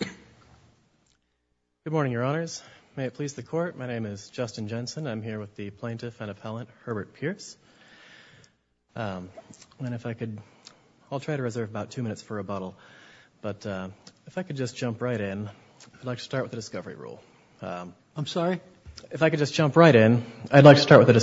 Good morning, Your Honors. May it please the Court, my name is Justin Jensen. I'm here with the Plaintiff and Appellant Herbert Pearse. And if I could, I'll try to reserve about two minutes for rebuttal, but if I could just jump right in, I'd like to start with the discovery rule. I'm sorry? If I could just jump right in, I'd like to start with the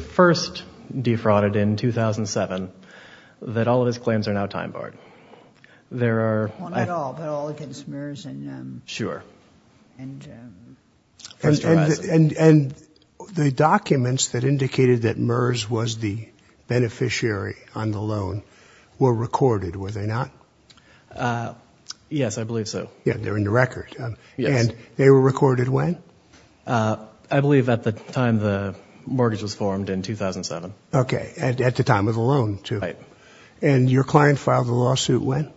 first defrauded in 2007, that all of his claims are now time-barred. There are... Not at all, but all against MERS and First Horizon. And the documents that indicated that MERS was the beneficiary on the loan were recorded, were they not? Yes, I believe so. Yeah, they're in the record. And they were recorded when? I believe at the time the mortgage was formed, in 2007. Okay, at the time of the loan, too. And your client filed a lawsuit when?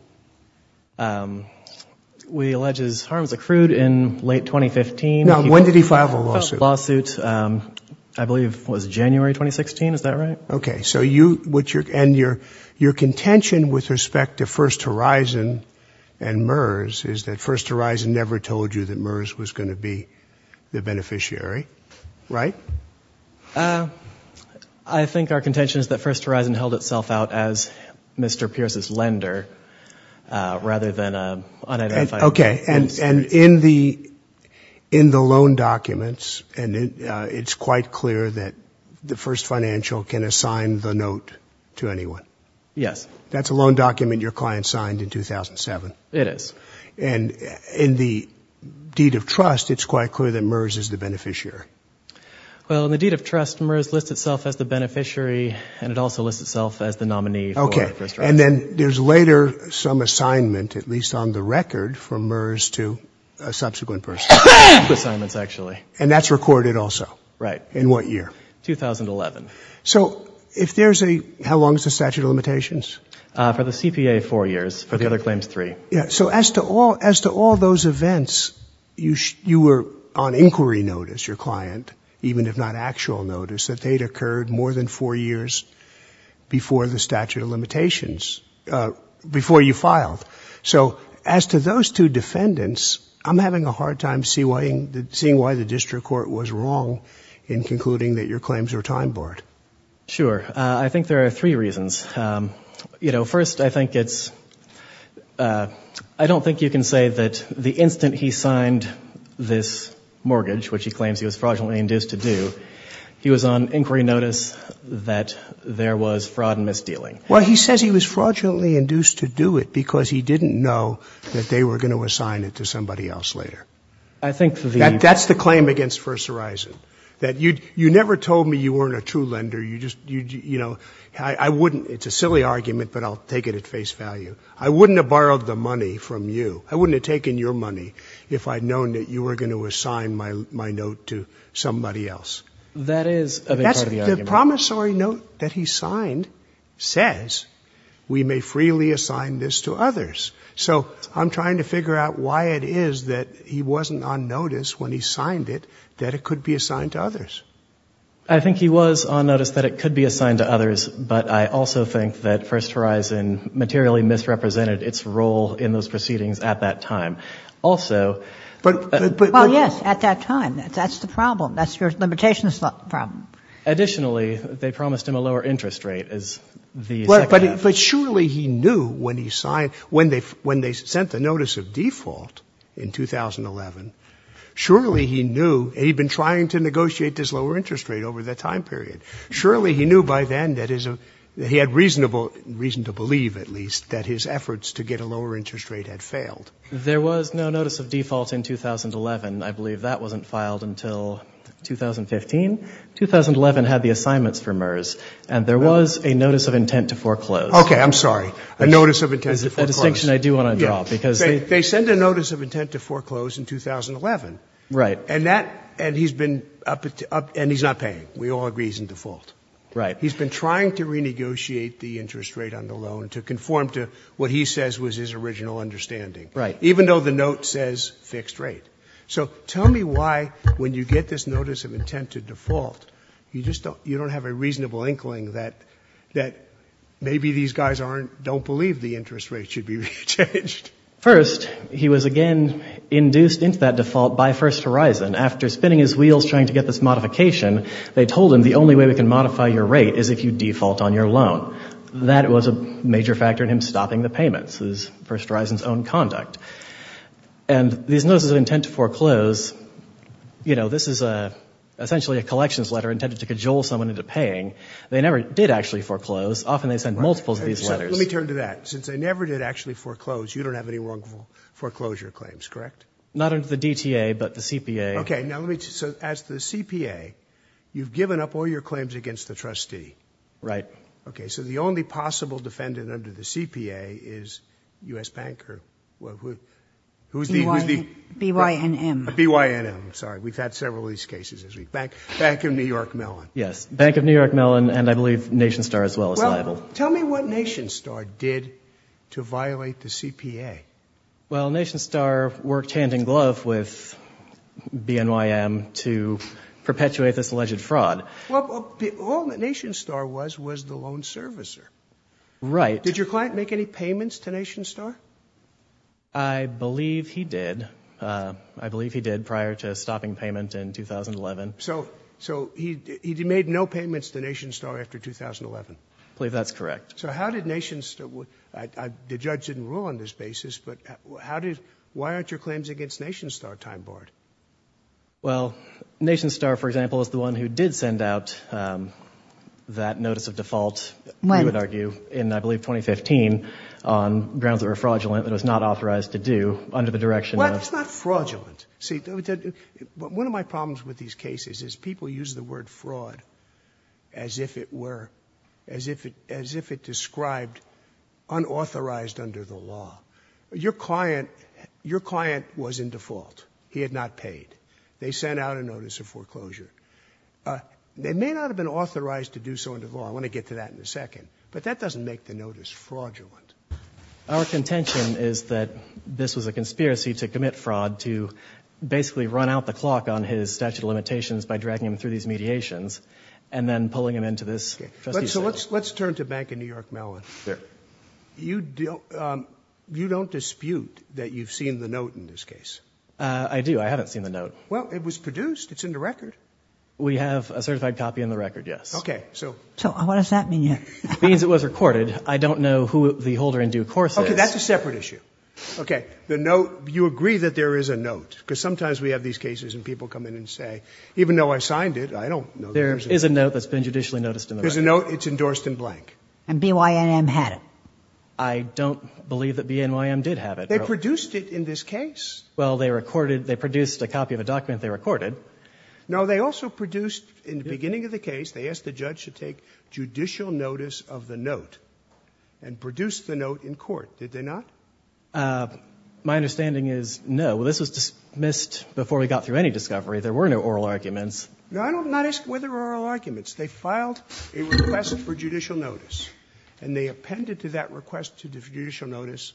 We allege his harms accrued in late 2015. Now, when did he file the lawsuit? The lawsuit, I believe, was January 2016, is that right? Okay, so you, and your contention with respect to First Horizon and MERS is that First Horizon never told you that MERS was going to be the beneficiary, right? I think our contention is that First Horizon held itself out as Mr. Pierce's lender, rather than unidentified... Okay, and in the loan documents, and it's quite clear that the First Financial can assign the note to anyone. Yes. That's a loan document your client signed in 2007. It is. And in the deed of trust, it's quite clear that MERS is the beneficiary. Well, in the deed of trust, MERS lists itself as the beneficiary, and it also lists itself as the nominee for First Horizon. Okay, and then there's later some assignment, at least on the record, from MERS to a subsequent person. Assignments, actually. And that's recorded also? Right. In what year? 2011. So, if there's a, how long is the statute of limitations? For the CPA, four years. For the other claims, three. So, as to all those events, you were on inquiry notice, your client, even if not actual notice, that they'd occurred more than four years before the statute of limitations, before you filed. So, as to those two defendants, I'm having a hard time seeing why the district court was wrong in concluding that your claims were time-barred. Sure. I think there are three reasons. First, I think it's, I don't think you can say that the instant he signed this mortgage, which he claims he was fraudulently induced to do, he was on inquiry notice that there was fraud and misdealing. Well, he says he was fraudulently induced to do it because he didn't know that they were going to assign it to somebody else later. I think the That's the claim against First Horizon. That you never told me you weren't a true lender. You just, you know, I wouldn't, it's a silly argument, but I'll take it at face value. I wouldn't have borrowed the money from you. I wouldn't have taken your money if I'd known that you were going to assign my note to somebody else. That is a big part of the argument. The promissory note that he signed says we may freely assign this to others. So I'm trying to figure out why it is that he wasn't on notice when he signed it that it could be assigned to others. I think he was on notice that it could be assigned to others, but I also think that First Horizon materially misrepresented its role in those proceedings at that time. Also, but Well, yes, at that time. That's the problem. That's your limitations problem. But surely he knew when he signed, when they sent the notice of default in 2011, surely he knew, and he'd been trying to negotiate this lower interest rate over that time period, surely he knew by then that he had reason to believe, at least, that his efforts to get a lower interest rate had failed. There was no notice of default in 2011. I believe that wasn't filed until 2015. 2011 had the assignments for MERS, and there was a notice of intent to foreclose. Okay. I'm sorry. A notice of intent to foreclose. That's a distinction I do want to draw, because they They sent a notice of intent to foreclose in 2011. Right. And that, and he's been, and he's not paying. We all agree he's in default. Right. He's been trying to renegotiate the interest rate on the loan to conform to what he says was his original understanding. Right. Even though the note says fixed rate. So tell me why, when you get this notice of intent to default, you just don't, you don't have a reasonable inkling that, that maybe these guys aren't, don't believe the interest rate should be changed. First, he was again induced into that default by First Horizon. After spinning his wheels trying to get this modification, they told him the only way we can modify your rate is if you default on your loan. That was a major factor in him stopping the payments. It was First Horizon's own conduct. And these notices of intent to foreclose, you know, this is essentially a collections letter intended to cajole someone into paying. They never did actually foreclose. Often they send multiples of these letters. Let me turn to that. Since they never did actually foreclose, you don't have any wrongful foreclosure claims, correct? Not under the DTA, but the CPA. Okay, now let me, so as the CPA, you've given up all your claims against the trustee. Right. Okay, so the only possible defendant under the CPA is U.S. Banker. Who's the? BYNM. BYNM, sorry. We've had several of these cases this week. Bank of New York Mellon. Yes, Bank of New York Mellon and I believe NationStar as well is liable. Well, tell me what NationStar did to violate the CPA. Well, NationStar worked hand in glove with BNYM to perpetuate this alleged fraud. Well, all that NationStar was was the loan servicer. Right. Did your client make any payments to NationStar? I believe he did. I believe he did prior to stopping payment in 2011. So he made no payments to NationStar after 2011? I believe that's correct. So how did NationStar, the judge didn't rule on this basis, but how did, why aren't your claims against NationStar time-barred? Well, NationStar, for example, is the one who did send out that notice of default. When? We would argue in, I believe, 2015 on grounds that were fraudulent and was not authorized to do under the direction of. Well, that's not fraudulent. See, one of my problems with these cases is people use the word fraud as if it were, as if it, as if it described unauthorized under the law. Your client, your client was in default. He had not paid. They sent out a notice of foreclosure. They may not have been authorized to do so under the law. I want to get to that in a second. But that doesn't make the notice fraudulent. Our contention is that this was a conspiracy to commit fraud to basically run out the clock on his statute of limitations by dragging him through these mediations and then pulling him into this. So let's, let's turn to Bank of New York Mellon. You don't dispute that you've seen the note in this case? I do. I haven't seen the note. Well, it was produced. It's in the record. We have a certified copy in the record, yes. Okay. So what does that mean? It means it was recorded. I don't know who the holder in due course is. Okay. That's a separate issue. Okay. The note, you agree that there is a note because sometimes we have these cases and people come in and say, even though I signed it, I don't know. There is a note that's been judicially noticed in the record. There's a note. It's endorsed in blank. And BYNM had it. I don't believe that BYNM did have it. They produced it in this case. Well, they recorded, they produced a copy of a document they recorded. No, they also produced, in the beginning of the case, they asked the judge to take judicial notice of the note and produced the note in court. Did they not? My understanding is no. Well, this was dismissed before we got through any discovery. There were no oral arguments. No, I'm not asking whether there were oral arguments. They filed a request for judicial notice. And they appended to that request for judicial notice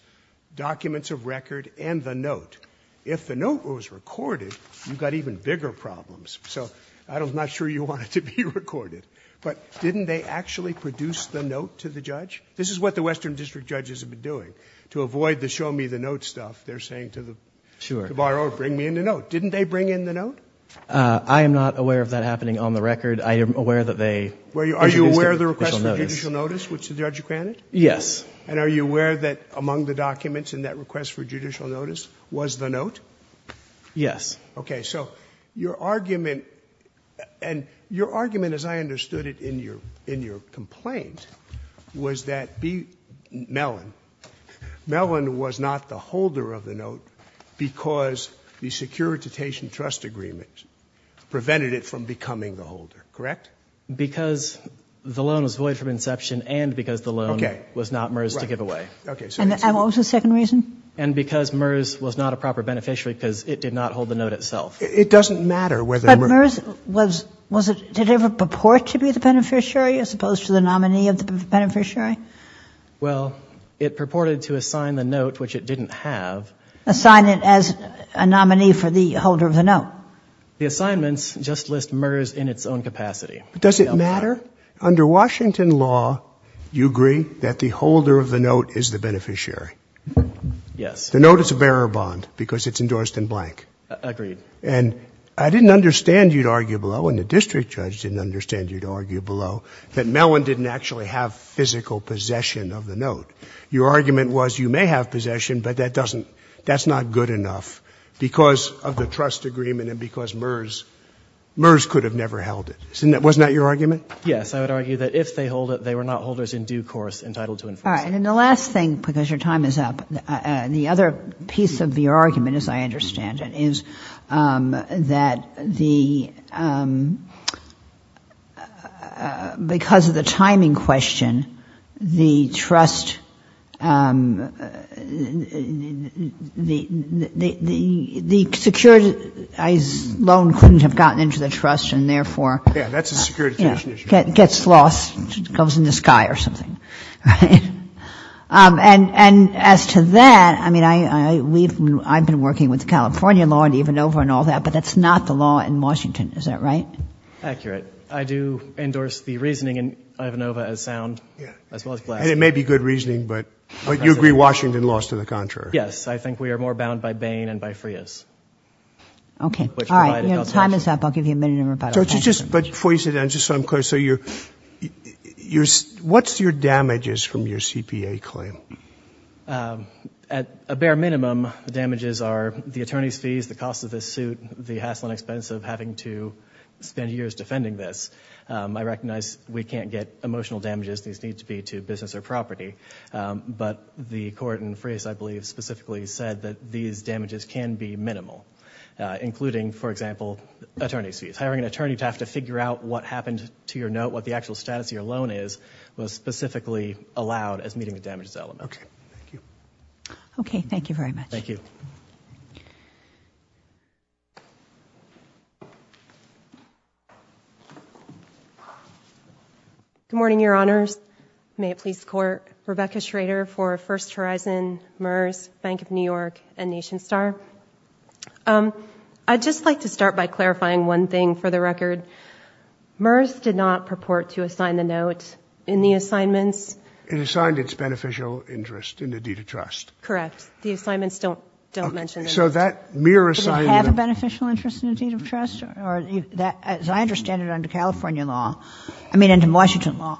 documents of record and the note. If the note was recorded, you've got even bigger problems. So I'm not sure you want it to be recorded. But didn't they actually produce the note to the judge? This is what the Western District judges have been doing. To avoid the show me the note stuff, they're saying to the borrower, bring me in the note. Didn't they bring in the note? I am not aware of that happening on the record. I am aware that they introduced a judicial notice. Are you aware of the request for judicial notice which the judge granted? Yes. And are you aware that among the documents in that request for judicial notice was the note? Yes. Okay. So your argument, and your argument as I understood it in your complaint, was that B. Mellon, Mellon was not the holder of the note because the Securitization Trust Agreement prevented it from becoming the holder, correct? Because the loan was void from inception and because the loan was not MERS to give away. Okay. And what was the second reason? And because MERS was not a proper beneficiary because it did not hold the note itself. It doesn't matter whether MERS was, was it, did it ever purport to be the beneficiary as opposed to the nominee of the beneficiary? Well, it purported to assign the note, which it didn't have. Assign it as a nominee for the holder of the note. The assignments just list MERS in its own capacity. Does it matter? Under Washington law, you agree that the holder of the note is the beneficiary? Yes. The note is a bearer bond because it's endorsed in blank. Agreed. And I didn't understand, you'd argue below, and the district judge didn't understand you'd argue below, that Mellon didn't actually have physical possession of the note. Your argument was you may have possession, but that doesn't, that's not good enough because of the trust agreement and because MERS, MERS could have never held it. Wasn't that your argument? Yes. I would argue that if they hold it, they were not holders in due course entitled to enforce it. All right. And the last thing, because your time is up, the other piece of your argument, as I understand it, is that the, because of the timing question, the trust agreement was, the security loan couldn't have gotten into the trust and therefore gets lost, goes in the sky or something, right? And as to that, I mean, I've been working with the California law and Ivanova and all that, but that's not the law in Washington. Is that right? Accurate. I do endorse the reasoning in Ivanova as sound, as well as Blaski. And it may be good reasoning, but you agree Washington lost to the contrary. Yes. I think we are more bound by Bain and by Frias. Okay. All right. Your time is up. I'll give you a minute to reply. So just, but before you sit down, just so I'm clear, so you're, you're, what's your damages from your CPA claim? At a bare minimum, the damages are the attorney's fees, the cost of this suit, the hassle and expense of having to spend years defending this. I recognize we can't get emotional damages. These need to be to business or property. But the court in Frias, I believe specifically said that these damages can be minimal, including for example, attorney's fees. Hiring an attorney to have to figure out what happened to your note, what the actual status of your loan is, was specifically allowed as meeting the damages element. Okay. Thank you. Okay. Thank you very much. Thank you. Good morning, your honors. May it please the court. Rebecca Schrader for First Horizon, MERS, Bank of New York and Nation Star. I'd just like to start by clarifying one thing for the record. MERS did not purport to assign the note in the assignments. It assigned its beneficial interest in the deed of trust. Correct. The assignments don't, don't mention it. So that mere assignment. Did it have a beneficial interest in the deed of trust? As I understand it under California law, I mean under Washington law,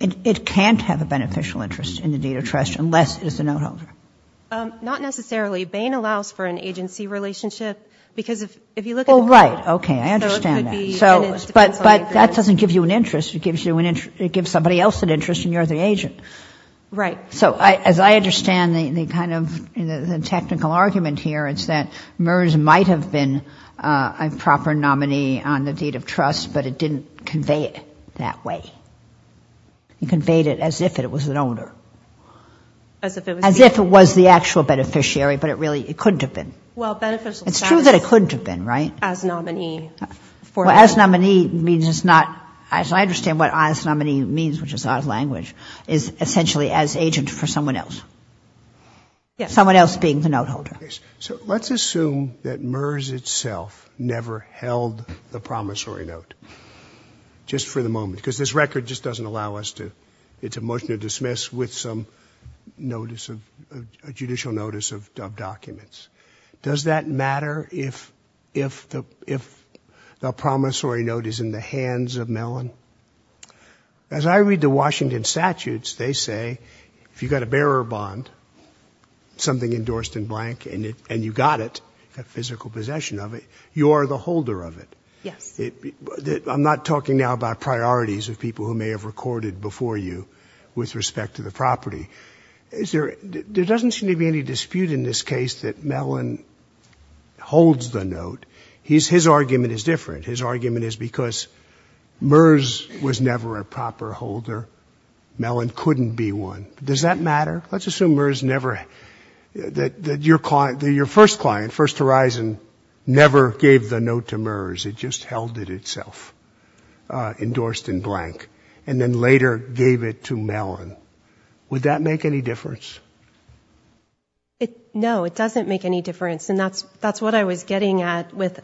it can't have a beneficial interest in the deed of trust unless it is a note holder. Not necessarily. Bain allows for an agency relationship because if you look at the court. Oh, right. Okay. I understand that. But that doesn't give you an interest. It gives somebody else an interest and you're the agent. Right. So as I understand the kind of technical argument here, it's that MERS might have been a proper nominee on the deed of trust, but it didn't convey it that way. It conveyed it as if it was an owner. As if it was. As if it was the actual beneficiary, but it really, it couldn't have been. Well, beneficial. It's true that it couldn't have been, right? As nominee. Well, as nominee means it's not, as I understand what as nominee means, which is odd language, is essentially as agent for someone else. Yes. Someone else being the note holder. So let's assume that MERS itself never held the promissory note just for the moment because this record just doesn't allow us to, it's a motion to dismiss with some notice of a judicial notice of documents. Does that matter if the promissory note is in the hands of Mellon? As I read the Washington statutes, they say if you've got a bearer bond, something endorsed in blank and you got it, a physical possession of it, you are the holder of it. Yes. I'm not talking now about priorities of people who may have recorded before you with respect to the property. There doesn't seem to be any dispute in this case that Mellon holds the note. His argument is different. His argument is because MERS was never a proper holder. Mellon couldn't be one. Does that matter? Let's assume MERS never, that your first client, First Horizon, never gave the note to MERS. It just held it itself, endorsed in blank, and then later gave it to Mellon. Would that make any difference? No, it doesn't make any difference. And that's what I was getting at with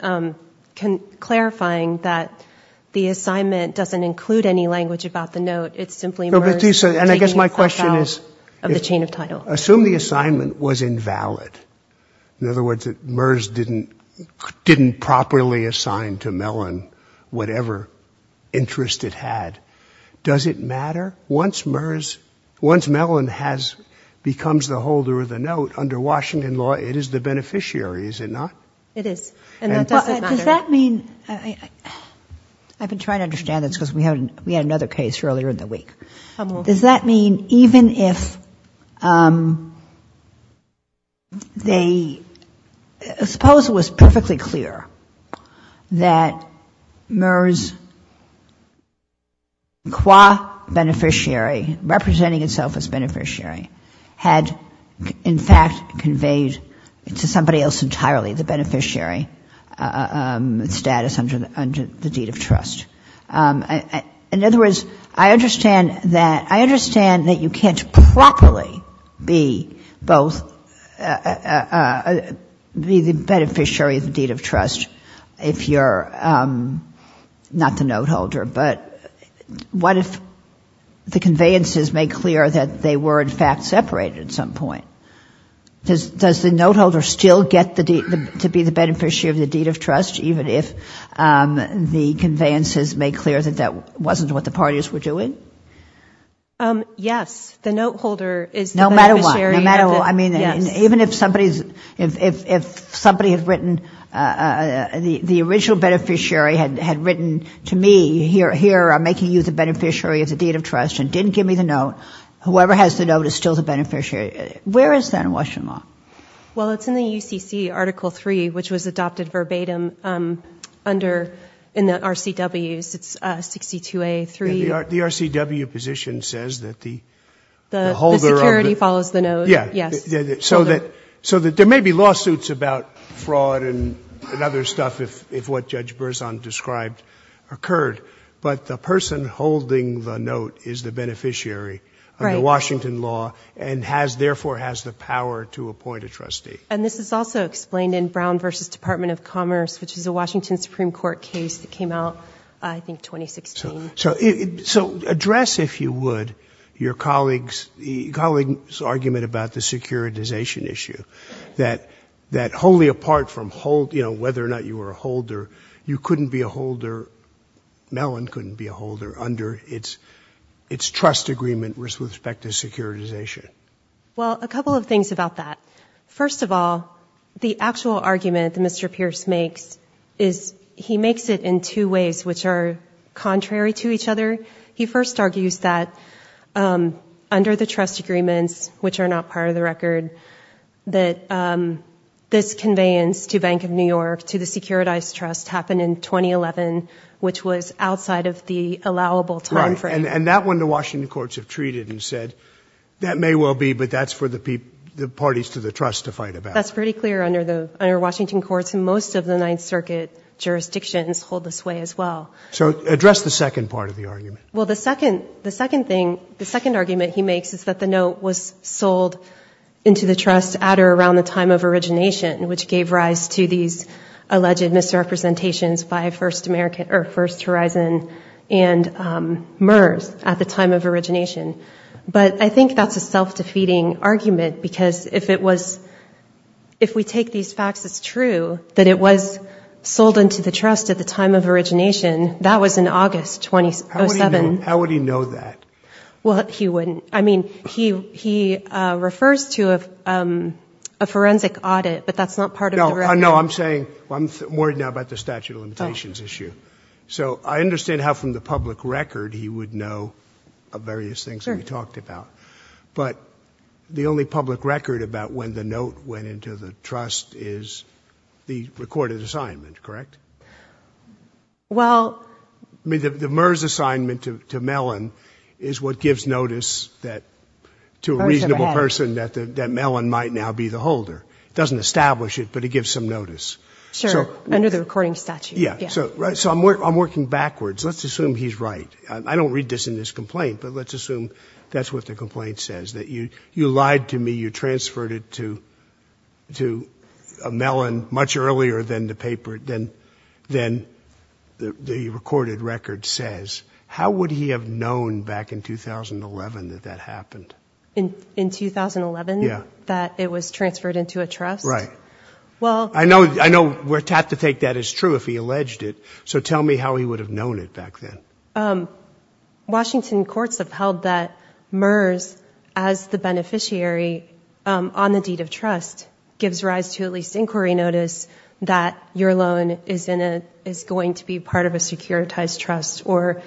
clarifying that the assignment doesn't include any language about the note. It's simply MERS taking itself out of the chain of title. Assume the assignment was invalid. In other words, MERS didn't properly assign to Mellon whatever interest it had. Does it matter? Once Mellon becomes the holder of the note, under Washington law, it is the beneficiary, is it not? It is. And that doesn't matter. I mean, I've been trying to understand this because we had another case earlier in the week. Does that mean even if they ‑‑ suppose it was perfectly clear that MERS, qua beneficiary, representing itself as beneficiary, had in fact conveyed to somebody else entirely the beneficiary status under the deed of trust? In other words, I understand that you can't properly be both ‑‑ be the beneficiary of the deed of trust if you're not the note holder, but what if the conveyances make clear that they were in fact separated at some point? Does the note holder still get to be the beneficiary of the deed of trust even if the conveyances make clear that that wasn't what the parties were doing? Yes. The note holder is the beneficiary of the ‑‑ No matter what. No matter what. I mean, even if somebody had written ‑‑ the original beneficiary had written to me, here, I'm making you the beneficiary of the deed of trust and didn't give me the note, whoever has the note is still the beneficiary. Where is that in Washington law? Well, it's in the UCC Article 3, which was adopted verbatim under ‑‑ in the RCWs, it's 62A3. The RCW position says that the holder of the ‑‑ The security follows the note. Yes. So that there may be lawsuits about fraud and other stuff if what Judge Berzon described occurred, but the person holding the note is the beneficiary of the deed of trust and therefore has the power to appoint a trustee. And this is also explained in Brown v. Department of Commerce, which is a Washington Supreme Court case that came out, I think, 2016. So address, if you would, your colleague's argument about the securitization issue, that wholly apart from whether or not you were a holder, you couldn't be a holder, Mellon couldn't be a holder under its trust agreement with respect to securitization. Well, a couple of things about that. First of all, the actual argument that Mr. Pierce makes is he makes it in two ways, which are contrary to each other. He first argues that under the trust agreements, which are not part of the record, that this conveyance to Bank of New York, to the securitized trust, happened in 2011, which was outside of the allowable time frame. And that one the Washington courts have treated and said, that may well be, but that's for the parties to the trust to fight about. That's pretty clear under Washington courts. And most of the Ninth Circuit jurisdictions hold this way as well. So address the second part of the argument. Well, the second thing, the second argument he makes is that the note was sold into the trust at or around the time of origination, which gave rise to these alleged misrepresentations by First American or First Horizon and MERS at the time of origination. But I think that's a self-defeating argument, because if it was, if we take these facts as true, that it was sold into the trust at the time of origination, that was in August 2007. How would he know that? Well, he wouldn't. I mean, he refers to a forensic audit, but that's not part of the record. I'm saying, well, I'm worried now about the statute of limitations issue. So I understand how from the public record he would know of various things that we talked about. But the only public record about when the note went into the trust is the recorded assignment, correct? Well. I mean, the MERS assignment to Mellon is what gives notice to a reasonable person that Mellon might now be the holder. It doesn't establish it, but it gives some notice. Sure. Under the recording statute. Yeah. So I'm working backwards. Let's assume he's right. I don't read this in this complaint, but let's assume that's what the complaint says, that you lied to me, you transferred it to Mellon much earlier than the paper, than the recorded record says. How would he have known back in 2011 that that happened? In 2011? Yeah. That it was transferred into a trust? Right. Well. I know we have to take that as true if he alleged it. So tell me how he would have known it back then. Washington courts have held that MERS as the beneficiary on the deed of trust gives rise to at least inquiry notice that your loan is going to be part of a securitized trust or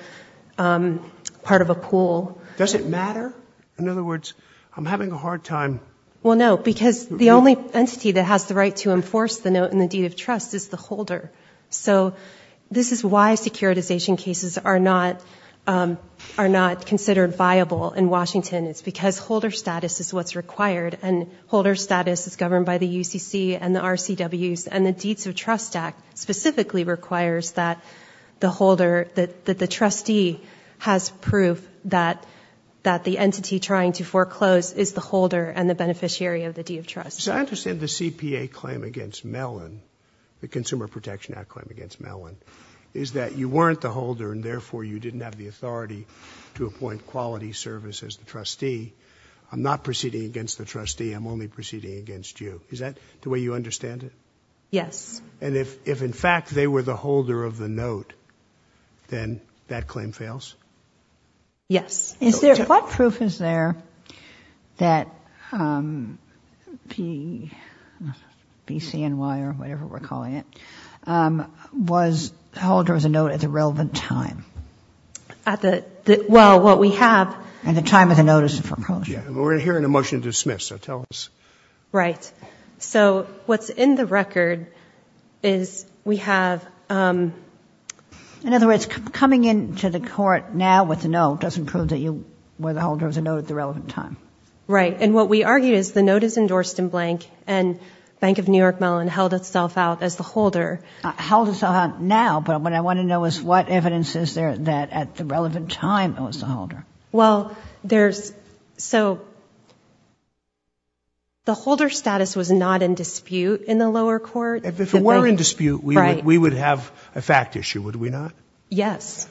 part of a pool. Does it matter? In other words, I'm having a hard time. Well, no. Because the only entity that has the right to enforce the note in the deed of trust is the holder. So this is why securitization cases are not considered viable in Washington. It's because holder status is what's required. And holder status is governed by the UCC and the RCWs. And the Deeds of Trust Act specifically requires that the trustee has proof that the entity trying to foreclose is the holder and the beneficiary of the deed of trust. So I understand the CPA claim against Mellon, the Consumer Protection Act claim against Mellon, is that you weren't the holder and therefore you didn't have the authority to appoint quality service as the trustee. I'm not proceeding against the trustee. I'm only proceeding against you. Is that the way you understand it? Yes. And if in fact they were the holder of the note, then that claim fails? Yes. What proof is there that PCNY or whatever we're calling it, was the holder of the note at the relevant time? At the, well, what we have. At the time of the notice of foreclosure. We're hearing a motion to dismiss, so tell us. Right. So what's in the record is we have, In other words, coming into the court now with a note doesn't prove that you were the holder of the note at the relevant time. Right. And what we argued is the note is endorsed in blank and Bank of New York Mellon held itself out as the holder. Held itself out now, but what I want to know is what evidence is there that at the relevant time it was the holder? Well, there's, so, the holder status was not in dispute in the lower court. If it were in dispute, we would have a fact issue, would we not? Yes.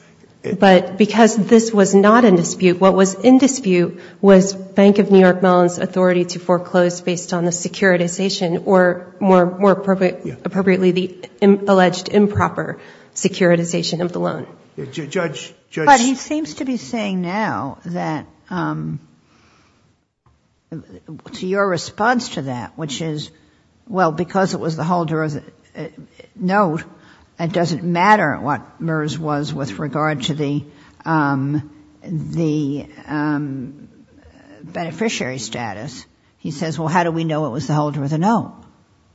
But because this was not in dispute, what was in dispute was Bank of New York Mellon's authority to foreclose based on the securitization or more appropriately, the alleged improper securitization of the loan. Judge. But he seems to be saying now that, to your response to that, which is, well, because it was the holder of the note, it doesn't matter what MERS was with regard to the, the beneficiary status. He says, well, how do we know it was the holder of the note?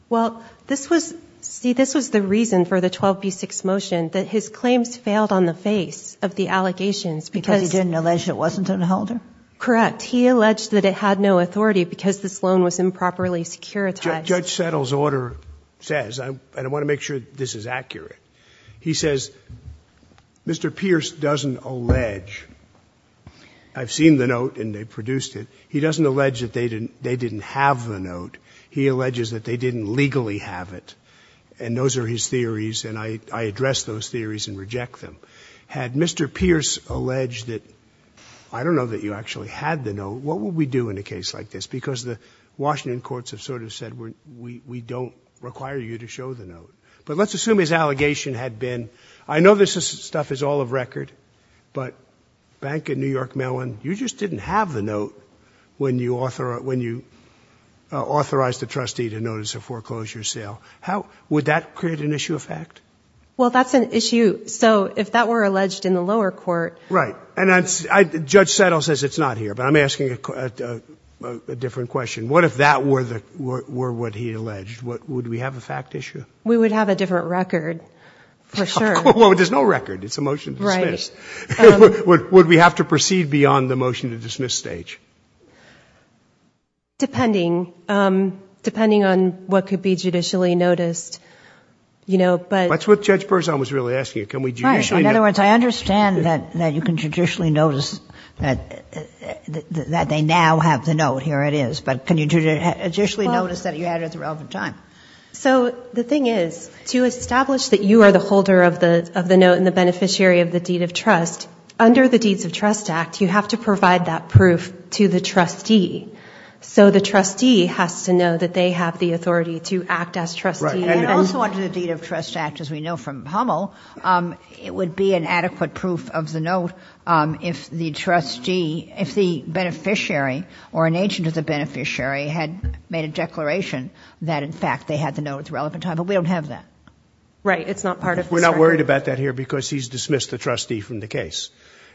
Well, this was, see, this was the reason for the 12B6 motion that his claims failed on the face of the allegations because he didn't allege it wasn't an holder. Correct. He alleged that it had no authority because this loan was improperly securitized. Judge Settle's order says, and I want to make sure this is accurate. He says, Mr. Pierce doesn't allege. I've seen the note and they produced it. He doesn't allege that they didn't have the note. He alleges that they didn't legally have it. And those are his theories, and I address those theories and reject them. Had Mr. Pierce alleged that, I don't know that you actually had the note, what would we do in a case like this? Because the Washington courts have sort of said, we don't require you to show the note. But let's assume his allegation had been, I know this stuff is all of record, but Bank of New York Mellon, you just didn't have the note when you authorized the trustee to notice a foreclosure sale. How would that create an issue of fact? Well, that's an issue. So if that were alleged in the lower court. Right. Judge Settle says it's not here, but I'm asking a different question. What if that were what he alleged? Would we have a fact issue? We would have a different record, for sure. Well, there's no record. It's a motion to dismiss. Right. Would we have to proceed beyond the motion to dismiss stage? Depending. Depending on what could be judicially noticed. That's what Judge Berzon was really asking. In other words, I understand that you can judicially notice that they now have the note. Here it is. But can you judicially notice that you had it at the relevant time? So the thing is, to establish that you are the holder of the note and the beneficiary of the deed of trust, under the Deeds of Trust Act, you have to provide that proof to the trustee. So the trustee has to know that they have the authority to act as trustee. And also under the Deed of Trust Act, as we know from Hummel, it would be an adequate proof of the note if the trustee, if the beneficiary or an agent of the beneficiary had made a declaration that in fact they had the note at the relevant time. But we don't have that. Right. It's not part of the circuit. We're not worried about that here because he's dismissed the trustee from the case.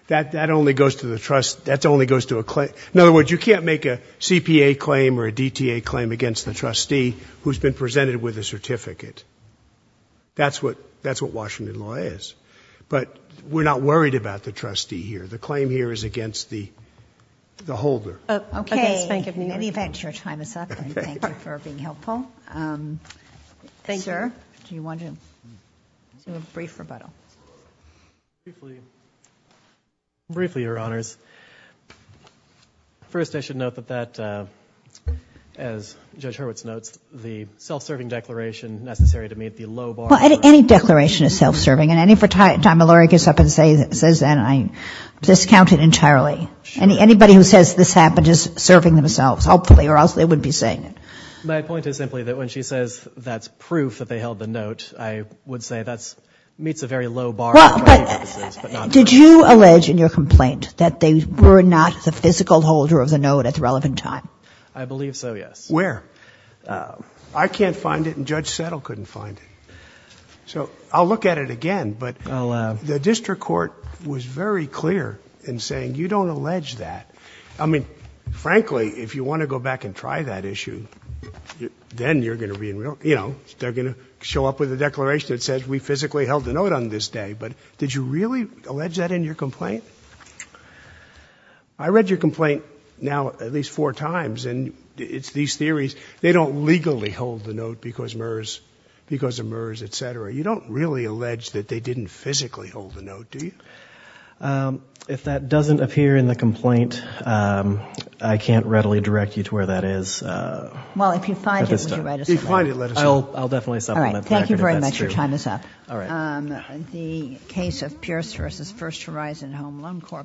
That only goes to the trust. That only goes to a claim. In other words, you can't make a CPA claim or a DTA claim against the trustee who's been presented with a certificate. That's what Washington law is. But we're not worried about the trustee here. The claim here is against the holder. Okay. In any event, your time is up. Thank you for being helpful. Sir, do you want to do a brief rebuttal? Briefly, Your Honors. First, I should note that as Judge Hurwitz notes, the self-serving declaration necessary to meet the low bar. Well, any declaration is self-serving. And any time a lawyer gets up and says that, I discount it entirely. Anybody who says this happened is serving themselves, hopefully, or else they wouldn't be saying it. My point is simply that when she says that's proof that they held the note, I would say that meets a very low bar. Did you allege in your complaint that they were not the physical holder of the note at the relevant time? I believe so, yes. Where? I can't find it, and Judge Settle couldn't find it. So I'll look at it again, but the district court was very clear in saying, you don't allege that. I mean, frankly, if you want to go back and try that issue, then you're going to be in real — you know, they're going to show up with a declaration that says we physically held the note on this day. But did you really allege that in your complaint? I read your complaint now at least four times, and it's these theories. They don't legally hold the note because of MERS, et cetera. You don't really allege that they didn't physically hold the note, do you? If that doesn't appear in the complaint, I can't readily direct you to where that is. Well, if you find it, let us know. If you find it, let us know. I'll definitely stop on that. All right. Thank you very much. Your time is up. All right. The case of Pierce v. First Horizon Home Loan Corp.